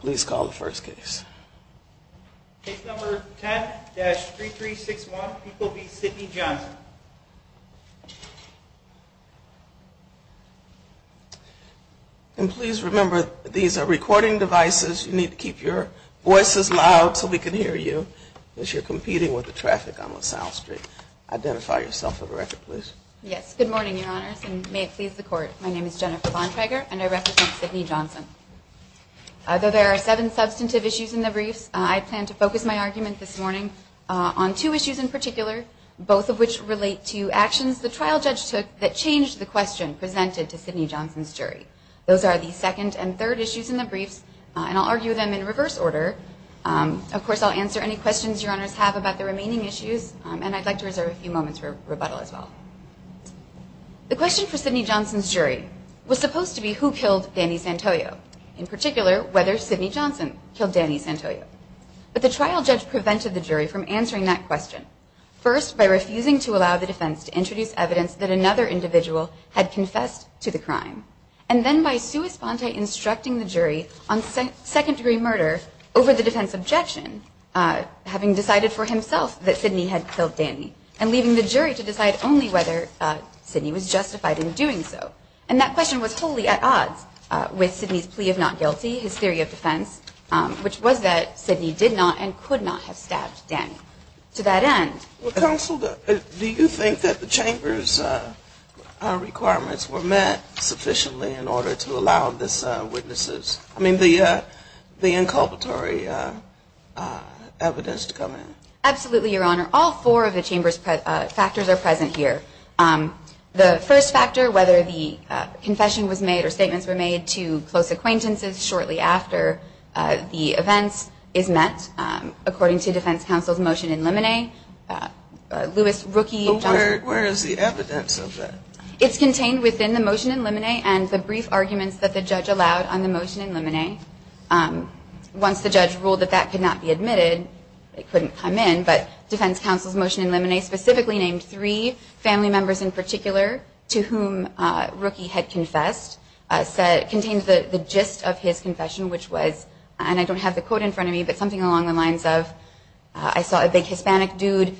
Please call the first case. Case number 10-3361, People v. Sidney Johnson. And please remember these are recording devices. You need to keep your voices loud so we can hear you as you're competing with the traffic on LaSalle Street. Identify yourself for the record, please. Yes. Good morning, Your Honors, and may it please the Court. My name is Jennifer Bontrager and I represent Sidney Johnson. Although there are seven substantive issues in the briefs, I plan to focus my argument this morning on two issues in particular, both of which relate to actions the trial judge took that changed the question presented to Sidney Johnson's jury. Those are the second and third issues in the briefs, and I'll argue them in reverse order. Of course, I'll answer any questions Your Honors have about the remaining issues, and I'd like to reserve a few moments for rebuttal as well. The question for Sidney Johnson's jury was supposed to be who killed Danny Santoyo, in particular whether Sidney Johnson killed Danny Santoyo. But the trial judge prevented the jury from answering that question, first by refusing to allow the defense to introduce evidence that another individual had confessed to the crime, and then by sui sponte instructing the jury on second-degree murder over the defense's objection, having decided for himself that Sidney had killed Danny, and leaving the jury to decide only whether Sidney was justified in doing so. And that question was wholly at odds with Sidney's plea of not guilty, his theory of defense, which was that Sidney did not and could not have stabbed Danny. To that end... Well, Counsel, do you think that the Chamber's requirements were met sufficiently in order to allow the witnesses... I mean, the inculpatory evidence to come in? Absolutely, Your Honor. All four of the Chamber's factors are present here. The first factor, whether the confession was made or statements were made to close acquaintances shortly after the events is met, according to defense counsel's motion in limine. Lewis, Rookie, Johnson... But where is the evidence of that? It's contained within the motion in limine and the brief arguments that the judge allowed on the motion in limine. Once the judge ruled that that could not be admitted, it couldn't come in, but defense counsel's motion in limine specifically named three family members in particular to whom Rookie had confessed, contains the gist of his confession, which was, and I don't have the quote in front of me, but something along the lines of, I saw a big Hispanic dude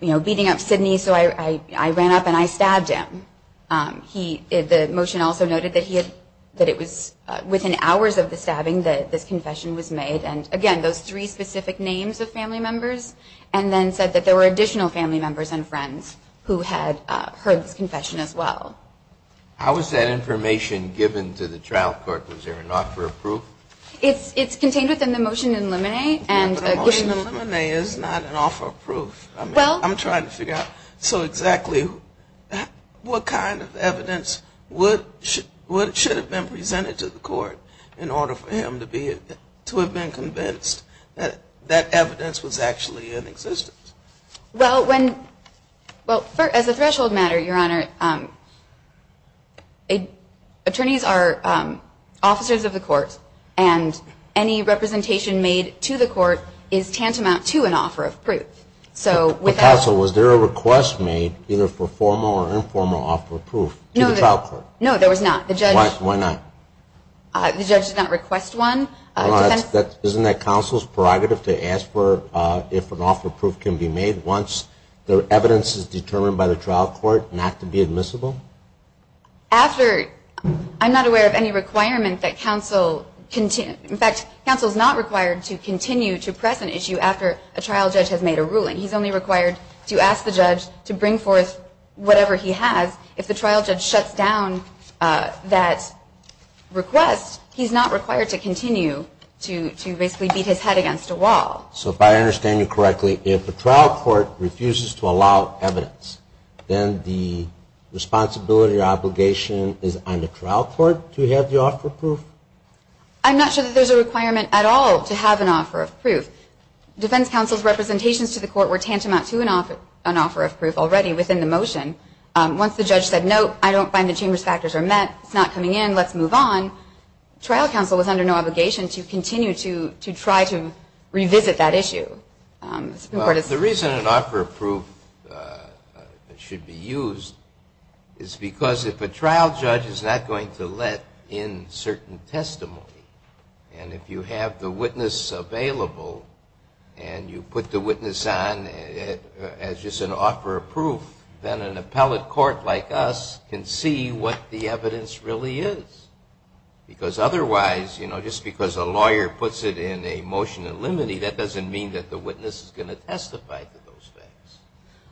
beating up Sidney, so I ran up and I stabbed him. The motion also noted that it was within hours of the stabbing that this confession was made, and again, those three specific names of family members, and then said that there were additional family members and friends who had heard this confession as well. How is that information given to the trial court? Was there an offer of proof? It's contained within the motion in limine. The motion in limine is not an offer of proof. I'm trying to figure out so exactly what kind of evidence should have been presented to the court in order for him to have been convinced that that evidence was actually in existence. Well, as a threshold matter, Your Honor, attorneys are officers of the court, and any representation made to the court is tantamount to an offer of proof. But counsel, was there a request made either for formal or informal offer of proof to the trial court? No, there was not. Why not? The judge did not request one. Isn't that counsel's prerogative to ask for if an offer of proof can be made once the evidence is determined by the trial court not to be admissible? After, I'm not aware of any requirement that counsel, in fact, counsel is not required to continue to press an issue after a trial judge has made a ruling. He's only required to ask the judge to bring forth whatever he has. If the trial judge shuts down that request, he's not required to continue to basically beat his head against a wall. So if I understand you correctly, if the trial court refuses to allow evidence, then the responsibility or obligation is on the trial court to have the offer of proof? I'm not sure that there's a requirement at all to have an offer of proof. Defense counsel's representations to the court were tantamount to an offer of proof already within the motion. Once the judge said, no, I don't find the chamber's factors are met, it's not coming in, let's move on, trial counsel was under no obligation to continue to try to revisit that issue. The reason an offer of proof should be used is because if a trial judge is not going to let in certain testimony and if you have the witness available and you put the witness on as just an offer of proof, then an appellate court like us can see what the evidence really is. Because otherwise, you know, just because a lawyer puts it in a motion in limine that doesn't mean that the witness is going to testify to those facts.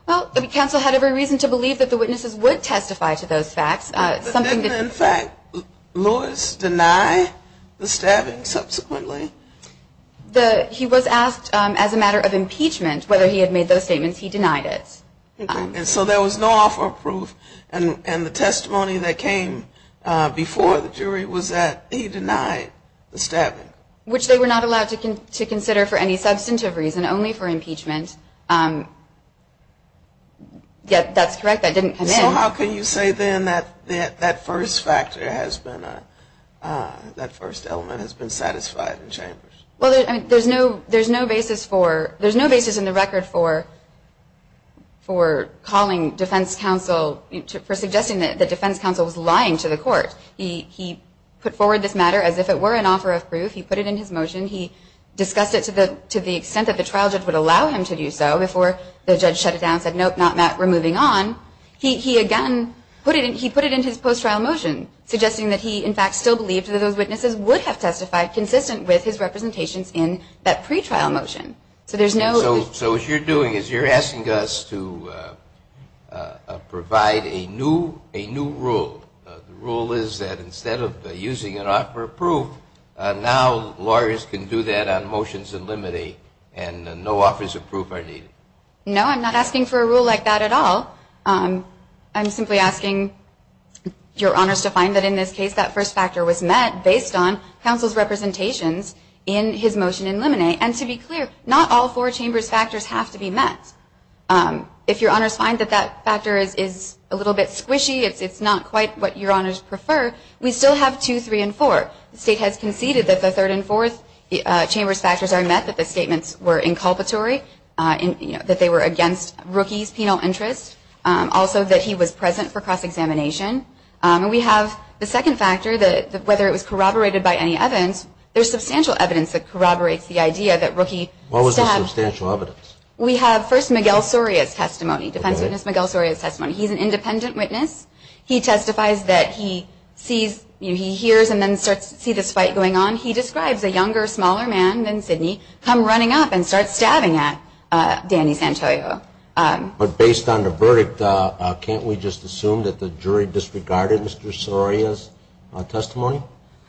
Well, counsel had every reason to believe that the witnesses would testify to those facts. But didn't in fact Lewis deny the stabbing subsequently? He was asked as a matter of impeachment whether he had made those statements. He denied it. And so there was no offer of proof. And the testimony that came before the jury was that he denied the stabbing. Which they were not allowed to consider for any substantive reason, only for impeachment. Yet that's correct, that didn't come in. So how can you say then that that first factor has been, that first element has been satisfied in chambers? Well, there's no basis for, there's no basis in the record for calling defense counsel, for suggesting that defense counsel was lying to the court. He put forward this matter as if it were an offer of proof. He put it in his motion. He discussed it to the extent that the trial judge would allow him to do so before the judge shut it down and said, nope, not that, we're moving on. He again, he put it in his post-trial motion, suggesting that he in fact still believed that those witnesses would have testified consistent with his representations in that pretrial motion. So there's no. So what you're doing is you're asking us to provide a new rule. The rule is that instead of using an offer of proof, now lawyers can do that on motions and limited and no offers of proof are needed. No, I'm not asking for a rule like that at all. I'm simply asking your honors to find that in this case, that first factor was met based on counsel's representations in his motion in limine. And to be clear, not all four chambers factors have to be met. If your honors find that that factor is a little bit squishy, it's not quite what your honors prefer, we still have two, three, and four. The state has conceded that the third and fourth chambers factors are met, that the statements were inculpatory, that they were against Rookie's penal interest, also that he was present for cross-examination. And we have the second factor, that whether it was corroborated by any evidence, there's substantial evidence that corroborates the idea that Rookie stabbed. What was the substantial evidence? We have, first, Miguel Soria's testimony, defense witness Miguel Soria's testimony. He's an independent witness. He testifies that he sees, he hears and then starts to see this fight going on. He describes a younger, smaller man than Sidney come running up and start stabbing at Danny Santoyo. But based on the verdict, can't we just assume that the jury disregarded Mr. Soria's testimony?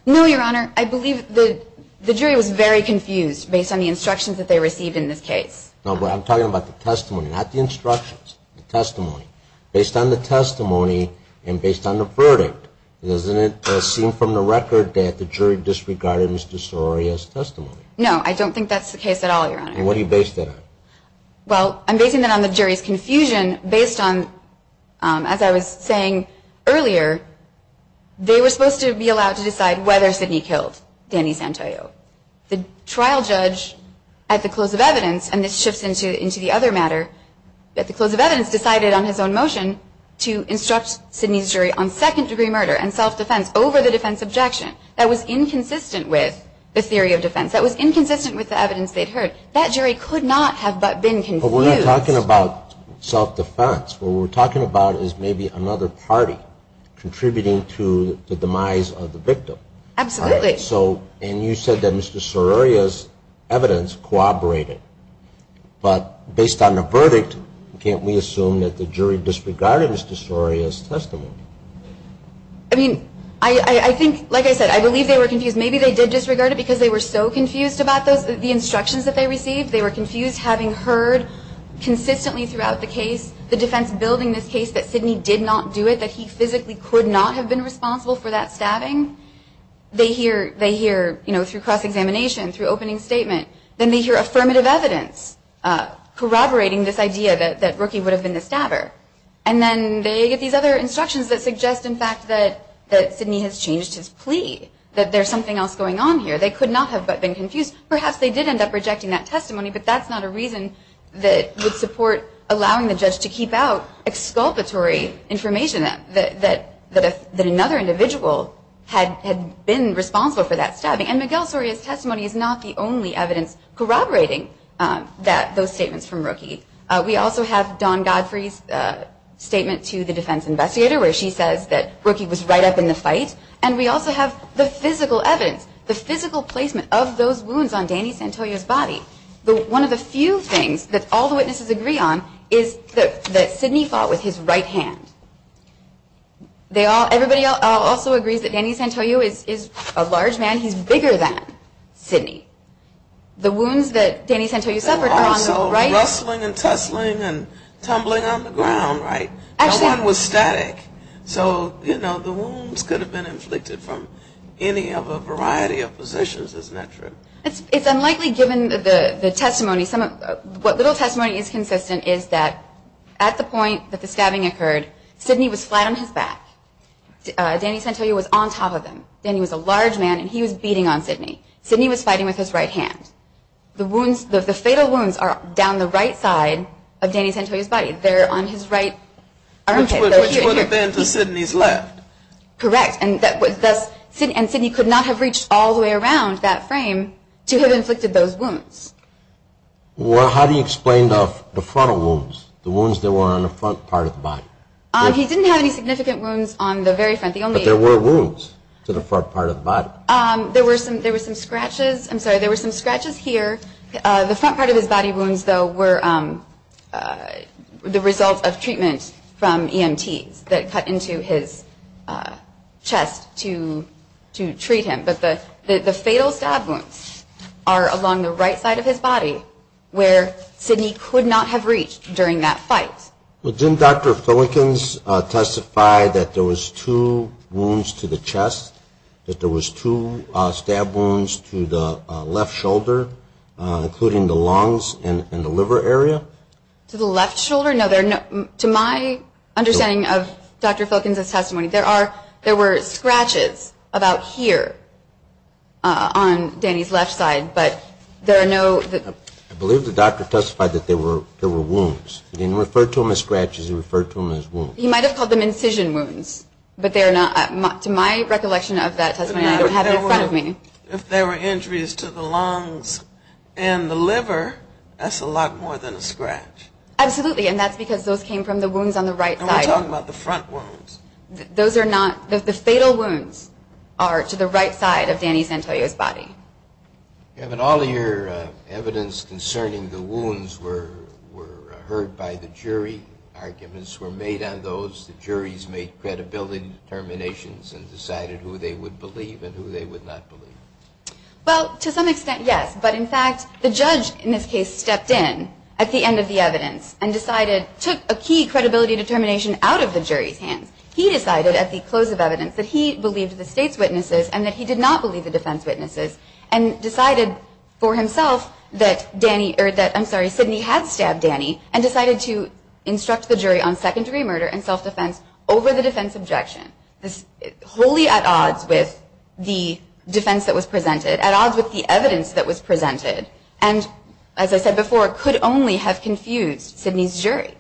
No, your honor. I believe the jury was very confused based on the instructions that they received in this case. No, but I'm talking about the testimony, not the instructions, the testimony. Based on the testimony and based on the verdict, doesn't it seem from the record that the jury disregarded Mr. Soria's testimony? No, I don't think that's the case at all, your honor. And what do you base that on? Well, I'm basing that on the jury's confusion based on, as I was saying earlier, they were supposed to be allowed to decide whether Sidney killed Danny Santoyo. The trial judge, at the close of evidence, and this shifts into the other matter, at the close of evidence decided on his own motion to instruct Sidney's jury on second-degree murder and self-defense over the defense objection. That was inconsistent with the theory of defense. That was inconsistent with the evidence they'd heard. That jury could not have but been confused. But we're not talking about self-defense. What we're talking about is maybe another party contributing to the demise of the victim. Absolutely. And you said that Mr. Sororia's evidence corroborated. But based on the verdict, can't we assume that the jury disregarded Mr. Sororia's testimony? I mean, I think, like I said, I believe they were confused. Maybe they did disregard it because they were so confused about the instructions that they received. They were confused having heard consistently throughout the case, the defense building this case that Sidney did not do it, that he physically could not have been responsible for that stabbing. They hear, you know, through cross-examination, through opening statement, then they hear affirmative evidence corroborating this idea that Rookie would have been the stabber. And then they get these other instructions that suggest, in fact, that Sidney has changed his plea, that there's something else going on here. They could not have but been confused. Perhaps they did end up rejecting that testimony, but that's not a reason that would support allowing the judge to keep out exculpatory information that another individual had been responsible for that stabbing. And Miguel Sororia's testimony is not the only evidence corroborating those statements from Rookie. We also have Dawn Godfrey's statement to the defense investigator where she says that Rookie was right up in the fight. And we also have the physical evidence, the physical placement of those wounds on Danny Santoyo's body. One of the few things that all the witnesses agree on is that Sidney fought with his right hand. Everybody also agrees that Danny Santoyo is a large man. He's bigger than Sidney. The wounds that Danny Santoyo suffered are on the right. They were also rustling and tussling and tumbling on the ground, right? No one was static. So, you know, the wounds could have been inflicted from any of a variety of positions, isn't that true? It's unlikely given the testimony. What little testimony is consistent is that at the point that the stabbing occurred, Sidney was flat on his back. Danny Santoyo was on top of him. Danny was a large man, and he was beating on Sidney. Sidney was fighting with his right hand. The fatal wounds are down the right side of Danny Santoyo's body. They're on his right armpit. Which would have been to Sidney's left. Correct. And Sidney could not have reached all the way around that frame to have inflicted those wounds. Well, how do you explain the frontal wounds, the wounds that were on the front part of the body? He didn't have any significant wounds on the very front. But there were wounds to the front part of the body. There were some scratches. I'm sorry, there were some scratches here. The front part of his body wounds, though, were the result of treatment from EMTs that cut into his chest to treat him. But the fatal stab wounds are along the right side of his body, where Sidney could not have reached during that fight. Well, didn't Dr. Filikens testify that there was two wounds to the chest, that there was two stab wounds to the left shoulder, including the lungs and the liver area? To the left shoulder? No, to my understanding of Dr. Filikens' testimony, there were scratches about here on Danny's left side, but there are no other. I believe the doctor testified that there were wounds. He didn't refer to them as scratches. He referred to them as wounds. He might have called them incision wounds, but they are not. To my recollection of that testimony, I don't have it in front of me. If there were injuries to the lungs and the liver, that's a lot more than a scratch. Absolutely, and that's because those came from the wounds on the right side. And we're talking about the front wounds. Those are not. The fatal wounds are to the right side of Danny Santelio's body. Kevin, all of your evidence concerning the wounds were heard by the jury. Arguments were made on those. The juries made credibility determinations and decided who they would believe and who they would not believe. Well, to some extent, yes. But, in fact, the judge in this case stepped in at the end of the evidence and decided took a key credibility determination out of the jury's hands. He decided at the close of evidence that he believed the state's witnesses and that he did not believe the defense witnesses and decided for himself that Sidney had stabbed Danny and decided to instruct the jury on second-degree murder and self-defense over the defense objection, wholly at odds with the defense that was presented, at odds with the evidence that was presented. And, as I said before, could only have confused Sidney's jury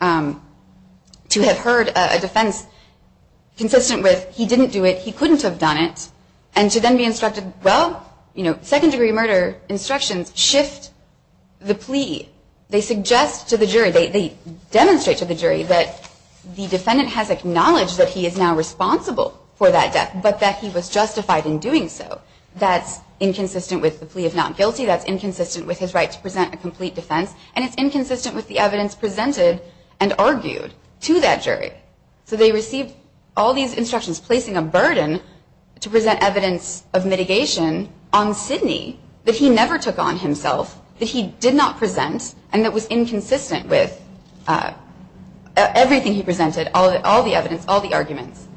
to have heard a defense consistent with he didn't do it, he couldn't have done it, and to then be instructed, well, you know, second-degree murder instructions shift the plea. They suggest to the jury, they demonstrate to the jury that the defendant has acknowledged that he is now responsible for that death, but that he was justified in doing so. That's inconsistent with the plea of not guilty, that's inconsistent with his right to present a complete defense, and it's inconsistent with the evidence presented and argued to that jury. So they received all these instructions placing a burden to present evidence of mitigation on Sidney that he never took on himself, that he did not present, and that was inconsistent with everything he presented, all the evidence, all the arguments.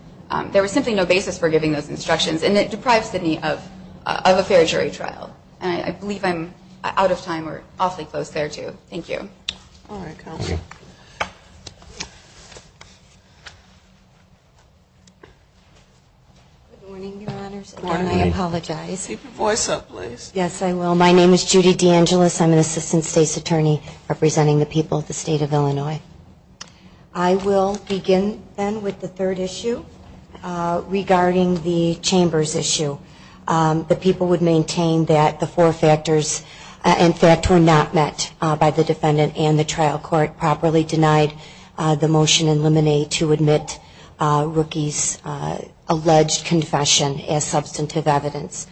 There was simply no basis for giving those instructions, and it deprived Sidney of a fair jury trial. And I believe I'm out of time or awfully close there, too. Thank you. All right, counsel. Good morning, Your Honors. Good morning. And I apologize. Keep your voice up, please. Yes, I will. My name is Judy DeAngelis. I'm an assistant state's attorney representing the people of the state of Illinois. I will begin, then, with the third issue regarding the chambers issue. The people would maintain that the four factors and fact were not met by the defendant and the trial court properly denied the motion in Lemonade to admit Rookie's alleged confession as substantive evidence.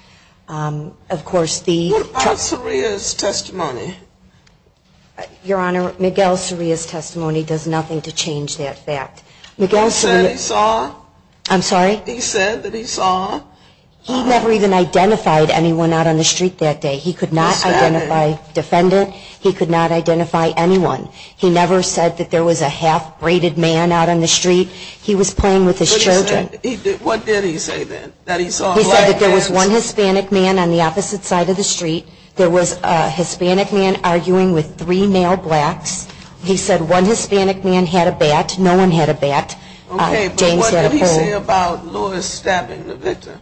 Of course, the ---- What about Soria's testimony? Your Honor, Miguel Soria's testimony does nothing to change that fact. Miguel Soria ---- You said he saw? I'm sorry? He said that he saw? He never even identified anyone out on the street that day. He could not identify defendant. He could not identify anyone. He never said that there was a half-braided man out on the street. He was playing with his children. What did he say, then, that he saw a black man? He said that there was one Hispanic man on the opposite side of the street. There was a Hispanic man arguing with three male blacks. No one had a bat. James had a bird. What did he say about Lewis stabbing the victim?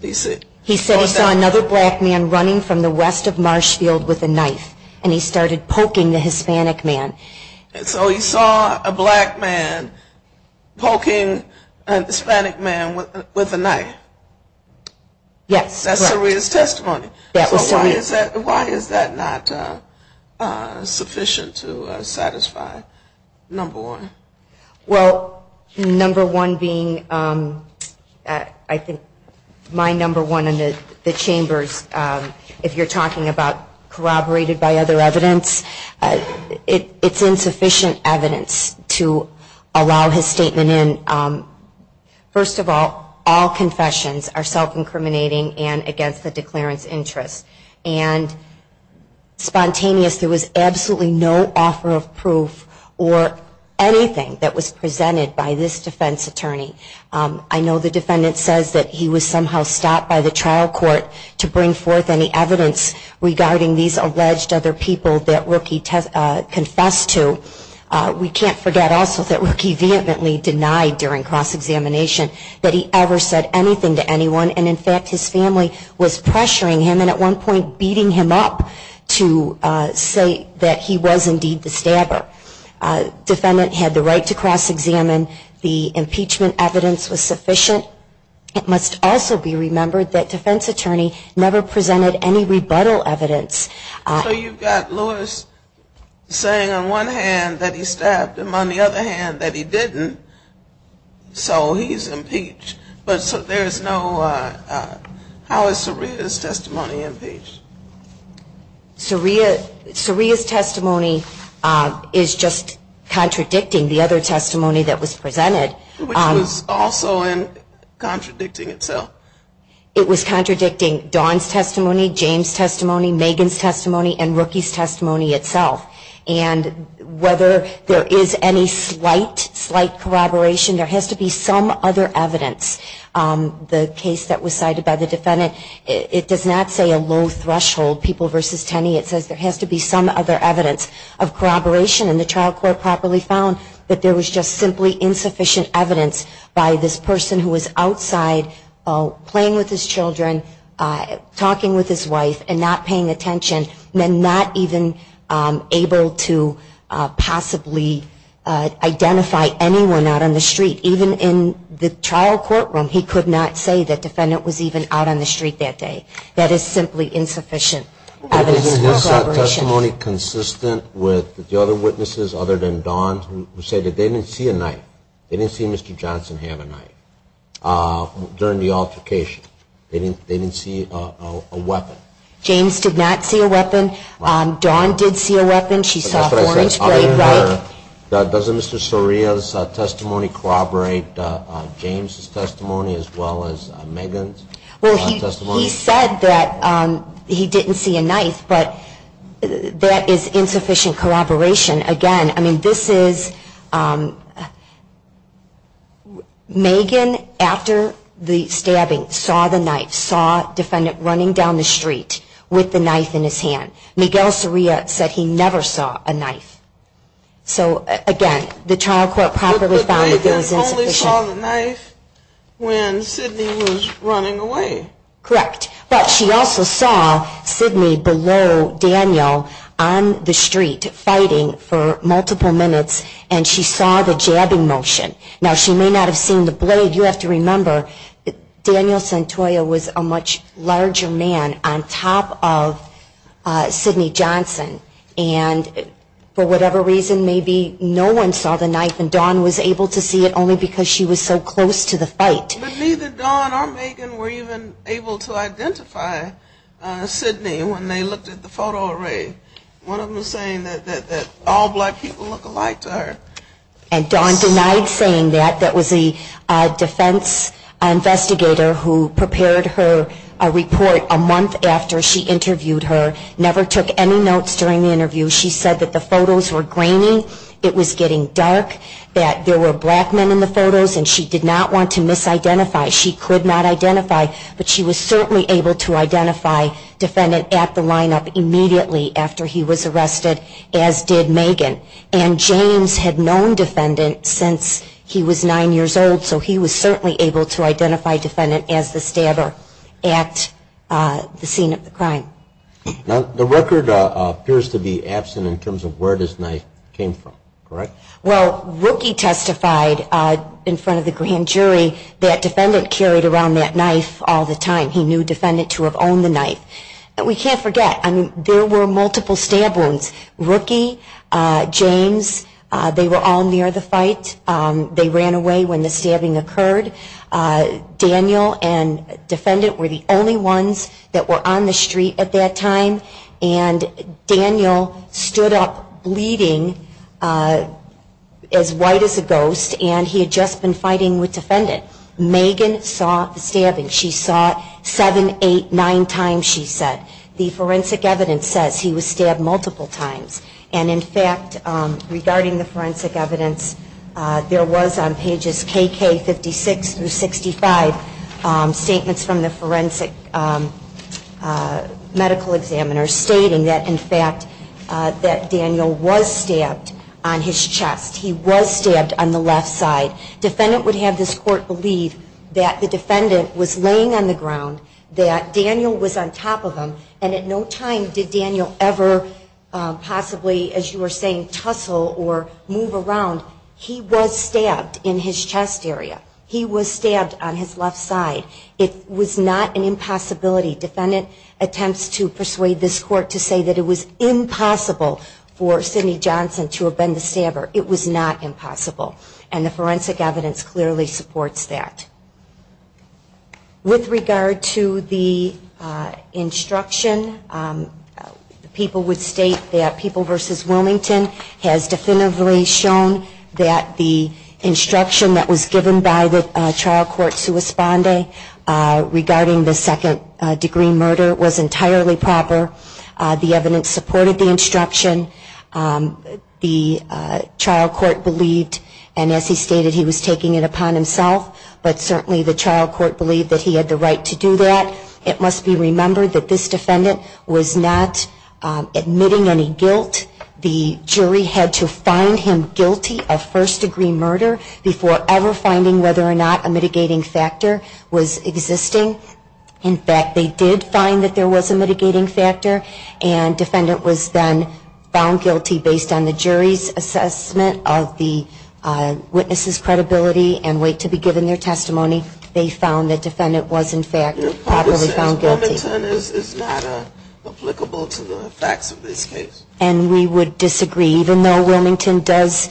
He said he saw another black man running from the west of Marshfield with a knife, and he started poking the Hispanic man. So he saw a black man poking an Hispanic man with a knife? Yes. That's Soria's testimony. Why is that not sufficient to satisfy number one? Well, number one being, I think, my number one in the chambers, if you're talking about corroborated by other evidence, it's insufficient evidence to allow his statement in. First of all, all confessions are self-incriminating and against the declarant's interest. And spontaneous, there was absolutely no offer of proof or anything that was presented by this defense attorney. I know the defendant says that he was somehow stopped by the trial court to bring forth any evidence regarding these alleged other people that Rookie confessed to. We can't forget also that Rookie vehemently denied during cross-examination that he ever said anything to anyone, and in fact his family was pressuring him and at one point beating him up to say that he was indeed the stabber. Defendant had the right to cross-examine. The impeachment evidence was sufficient. It must also be remembered that defense attorney never presented any rebuttal evidence. So you've got Lewis saying on one hand that he stabbed him, on the other hand that he didn't, so he's impeached. But there is no, how is Saria's testimony impeached? Saria's testimony is just contradicting the other testimony that was presented. Which was also contradicting itself. It was contradicting Dawn's testimony, James' testimony, Megan's testimony, and Rookie's testimony itself. And whether there is any slight, slight corroboration, there has to be some other evidence. The case that was cited by the defendant, it does not say a low threshold, people versus Tenney, it says there has to be some other evidence of corroboration and the trial court properly found that there was just simply insufficient evidence by this person who was outside playing with his children, talking with his wife, and not paying attention, and not even able to possibly identify anyone out on the street. Even in the trial courtroom, he could not say the defendant was even out on the street that day. That is simply insufficient evidence for corroboration. Isn't his testimony consistent with the other witnesses, other than Dawn's, who said that they didn't see a knife. They didn't see Mr. Johnson have a knife during the altercation. They didn't see a weapon. James did not see a weapon. Dawn did see a weapon. She saw horns, blade, knife. Does Mr. Soria's testimony corroborate James' testimony as well as Megan's testimony? Well, he said that he didn't see a knife, but that is insufficient corroboration. Again, I mean, this is, Megan, after the stabbing, saw the knife, saw the defendant running down the street with the knife in his hand. Miguel Soria said he never saw a knife. So, again, the trial court properly found that that was insufficient. But Megan only saw the knife when Sidney was running away. Correct. But she also saw Sidney below Daniel on the street fighting for multiple minutes, and she saw the jabbing motion. Now, she may not have seen the blade. You have to remember, Daniel Santoya was a much larger man on top of Sidney Johnson. And for whatever reason, maybe no one saw the knife, and Dawn was able to see it only because she was so close to the fight. But neither Dawn or Megan were even able to identify Sidney when they looked at the photo array. One of them was saying that all black people look alike to her. And Dawn denied saying that. That was the defense investigator who prepared her a report a month after she interviewed her, never took any notes during the interview. She said that the photos were grainy, it was getting dark, that there were black men in the photos, and she did not want to misidentify. She could not identify, but she was certainly able to identify defendant at the lineup immediately after he was arrested, as did Megan. And James had known defendant since he was nine years old, so he was certainly able to identify defendant as the stabber at the scene of the crime. Now, the record appears to be absent in terms of where this knife came from, correct? Well, Rookie testified in front of the grand jury that defendant carried around that knife all the time. He knew defendant to have owned the knife. We can't forget, there were multiple stab wounds. Rookie, James, they were all near the fight. They ran away when the stabbing occurred. Daniel and defendant were the only ones that were on the street at that time, and Daniel stood up bleeding as white as a ghost, and he had just been fighting with defendant. Megan saw the stabbing. She saw it seven, eight, nine times, she said. The forensic evidence says he was stabbed multiple times, and in fact, regarding the forensic evidence, there was on pages KK 56 through 65, statements from the forensic medical examiners stating that, in fact, that Daniel was stabbed on his chest. He was stabbed on the left side. Defendant would have this court believe that the defendant was laying on the ground, that Daniel was on top of him, and at no time did Daniel ever possibly, as you were saying, tussle or move around. He was stabbed in his chest area. He was stabbed on his left side. It was not an impossibility. Defendant attempts to persuade this court to say that it was impossible for Sidney Johnson to have been the stabber. It was not impossible, and the forensic evidence clearly supports that. With regard to the instruction, people would state that People v. Wilmington has definitively shown that the instruction that was given by the trial court sui sponde regarding the second degree murder was entirely proper. The evidence supported the instruction. The trial court believed, and as he stated, he was taking it upon himself, but certainly the trial court believed that he had the right to do that. It must be remembered that this defendant was not admitting any guilt. The jury had to find him guilty of first degree murder before ever finding whether or not a mitigating factor was existing. In fact, they did find that there was a mitigating factor, and defendant was then found guilty based on the jury's assessment of the witness's credibility and weight to be given their testimony. They found that defendant was, in fact, properly found guilty. Wilmington is not applicable to the facts of this case. And we would disagree, even though Wilmington does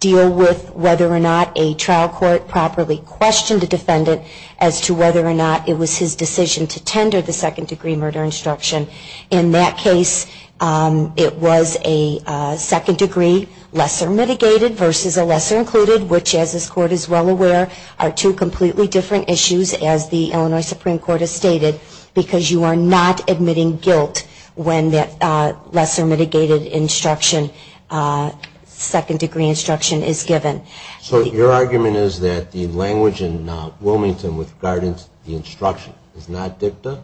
deal with whether or not a trial court properly questioned a defendant as to whether or not it was his decision to tender the second degree murder instruction. In that case, it was a second degree lesser mitigated versus a lesser included, which, as this court is well aware, are two completely different issues, as the Illinois Supreme Court has stated, because you are not admitting guilt when that lesser mitigated instruction, second degree instruction, is given. So your argument is that the language in Wilmington with regard to the instruction is not dicta?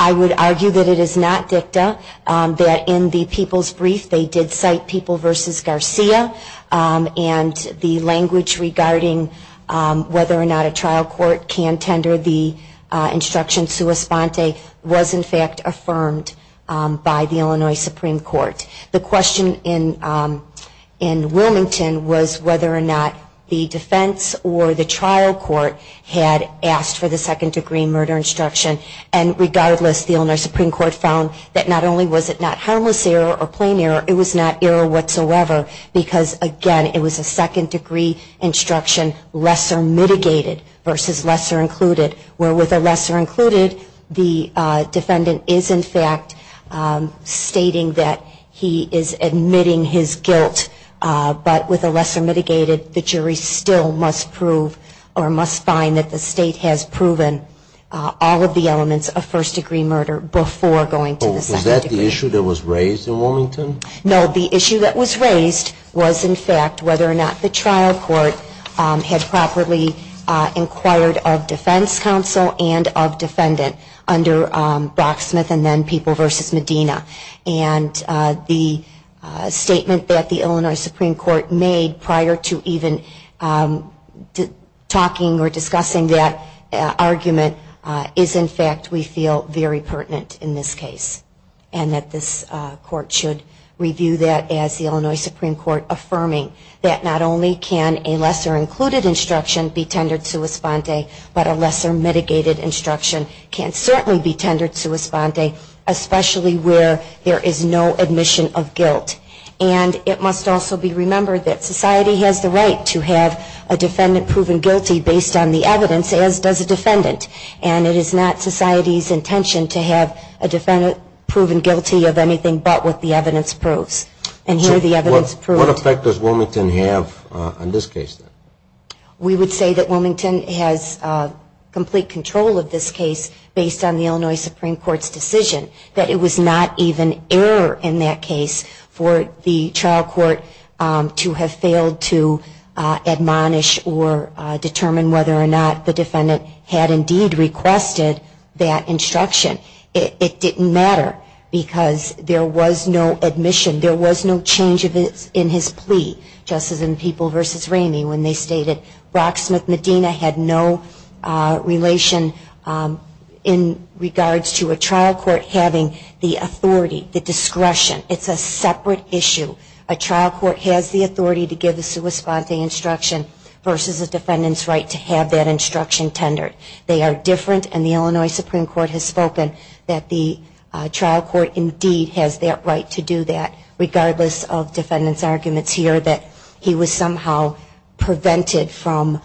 I would argue that it is not dicta. In the people's brief, they did cite people versus Garcia, and the language regarding whether or not a trial court can tender the instruction sua sponte was, in fact, affirmed by the Illinois Supreme Court. The question in Wilmington was whether or not the defense or the trial court had asked for the second degree murder instruction. And regardless, the Illinois Supreme Court found that not only was it not harmless error or plain error, it was not error whatsoever because, again, it was a second degree instruction lesser mitigated versus lesser included, where with a lesser included, the defendant is, in fact, stating that he is admitting his guilt. But with a lesser mitigated, the jury still must prove or must find that the state has proven all of the elements of first degree murder before going to the second degree. Was that the issue that was raised in Wilmington? No. The issue that was raised was, in fact, whether or not the trial court had properly inquired of defense counsel and of defendant under Brock Smith and then people versus Medina. And the statement that the Illinois Supreme Court made prior to even talking or discussing that argument is, in fact, we feel very pertinent in this case and that this court should review that as the Illinois Supreme Court affirming that not only can a lesser included instruction be tendered sua sponte, but a lesser mitigated instruction can certainly be tendered sua sponte, especially where there is no admission of guilt. And it must also be remembered that society has the right to have a defendant proven guilty based on the evidence, as does a defendant. And it is not society's intention to have a defendant proven guilty of anything but what the evidence proves. And here the evidence proves. What effect does Wilmington have on this case? We would say that Wilmington has complete control of this case based on the Illinois Supreme Court's decision that it was not even error in that case for the trial court to have failed to admonish or determine whether or not the defendant had indeed requested that instruction. It didn't matter because there was no admission. There was no change in his plea, just as in People v. Ramey when they stated Rocksmith Medina had no relation in regards to a trial court having the authority, the discretion. It's a separate issue. A trial court has the authority to give a sua sponte instruction versus a defendant's right to have that instruction tendered. They are different. And the Illinois Supreme Court has spoken that the trial court indeed has that right to do that, regardless of defendant's arguments here that he was somehow prevented from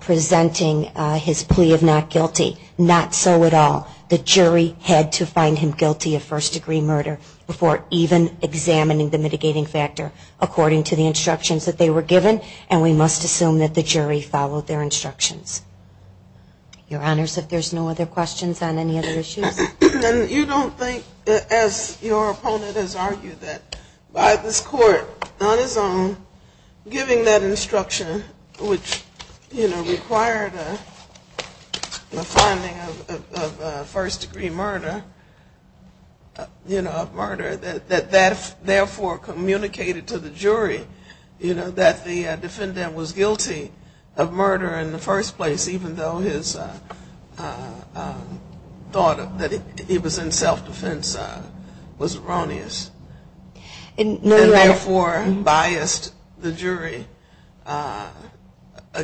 presenting his plea of not guilty. Not so at all. The jury had to find him guilty of first-degree murder before even examining the mitigating factor according to the instructions that they were given. And we must assume that the jury followed their instructions. Your Honors, if there's no other questions on any other issues. And you don't think, as your opponent has argued, that by this court on its own giving that instruction, which required a finding of first-degree murder, you know, of murder, that that therefore communicated to the jury, you know, that the defendant was guilty of murder in the first place, even though his thought that he was in self-defense was erroneous. And therefore biased the jury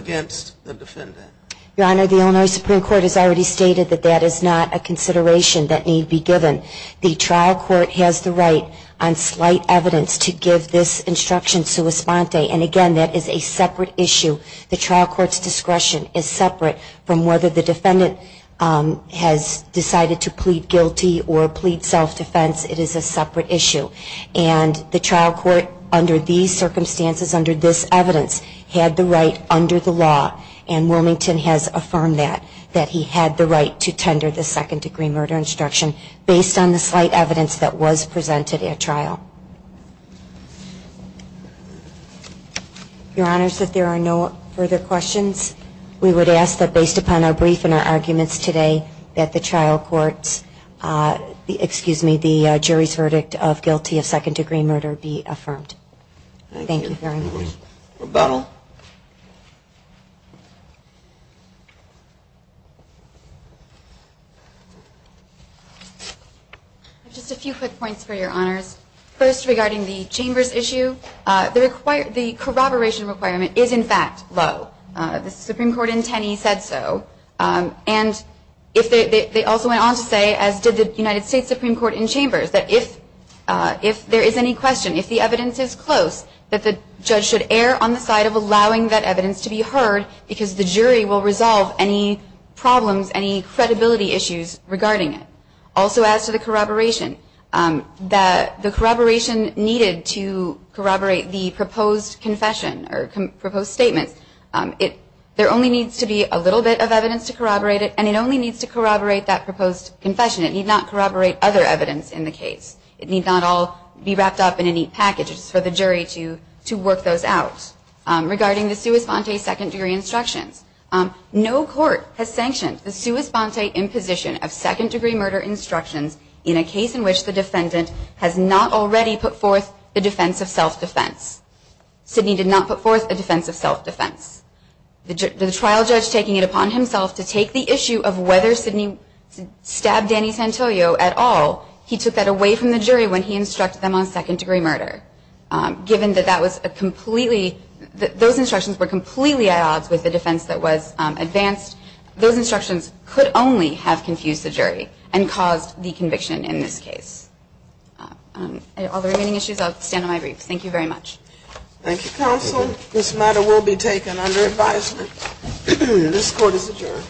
against the defendant. Your Honor, the Illinois Supreme Court has already stated that that is not a consideration that need be given. The trial court has the right on slight evidence to give this instruction sua sponte. And again, that is a separate issue. The trial court's discretion is separate from whether the defendant has decided to plead guilty or plead self-defense. It is a separate issue. And the trial court under these circumstances, under this evidence, had the right under the law, and Wilmington has affirmed that, that he had the right to tender the second-degree murder instruction based on the slight evidence that was presented at trial. Your Honors, if there are no further questions, we would ask that based upon our brief and our arguments today that the trial court's, excuse me, the jury's verdict of guilty of second-degree murder be affirmed. Thank you very much. Rebuttal. I have just a few quick points for Your Honors. First, regarding the Chambers issue, the corroboration requirement is in fact low. The Supreme Court in Tenney said so. And they also went on to say, as did the United States Supreme Court in Chambers, that if there is any question, if the evidence is close, that the judge should err on the side of allowing that evidence to be heard, because the jury will resolve any problems, any credibility issues regarding it. Also, as to the corroboration, that the corroboration needed to corroborate the proposed confession or proposed statements, there only needs to be a little bit of evidence to corroborate it, and it only needs to corroborate that proposed confession. It need not corroborate other evidence in the case. It need not all be wrapped up in a neat package for the jury to work those out. Regarding the sua sponte second-degree instructions, no court has sanctioned the sua sponte imposition of second-degree murder instructions in a case in which the defendant has not already put forth a defense of self-defense. Sidney did not put forth a defense of self-defense. The trial judge taking it upon himself to take the issue of whether Sidney stabbed Danny Santoyo at all, he took that away from the jury when he instructed them on second-degree murder. Given that that was a completely, that those instructions were completely at odds with the defense that was advanced, those instructions could only have confused the jury and caused the conviction in this case. All the remaining issues, I'll stand on my briefs. Thank you very much. Thank you, Counsel. This matter will be taken under advisement. This court is adjourned.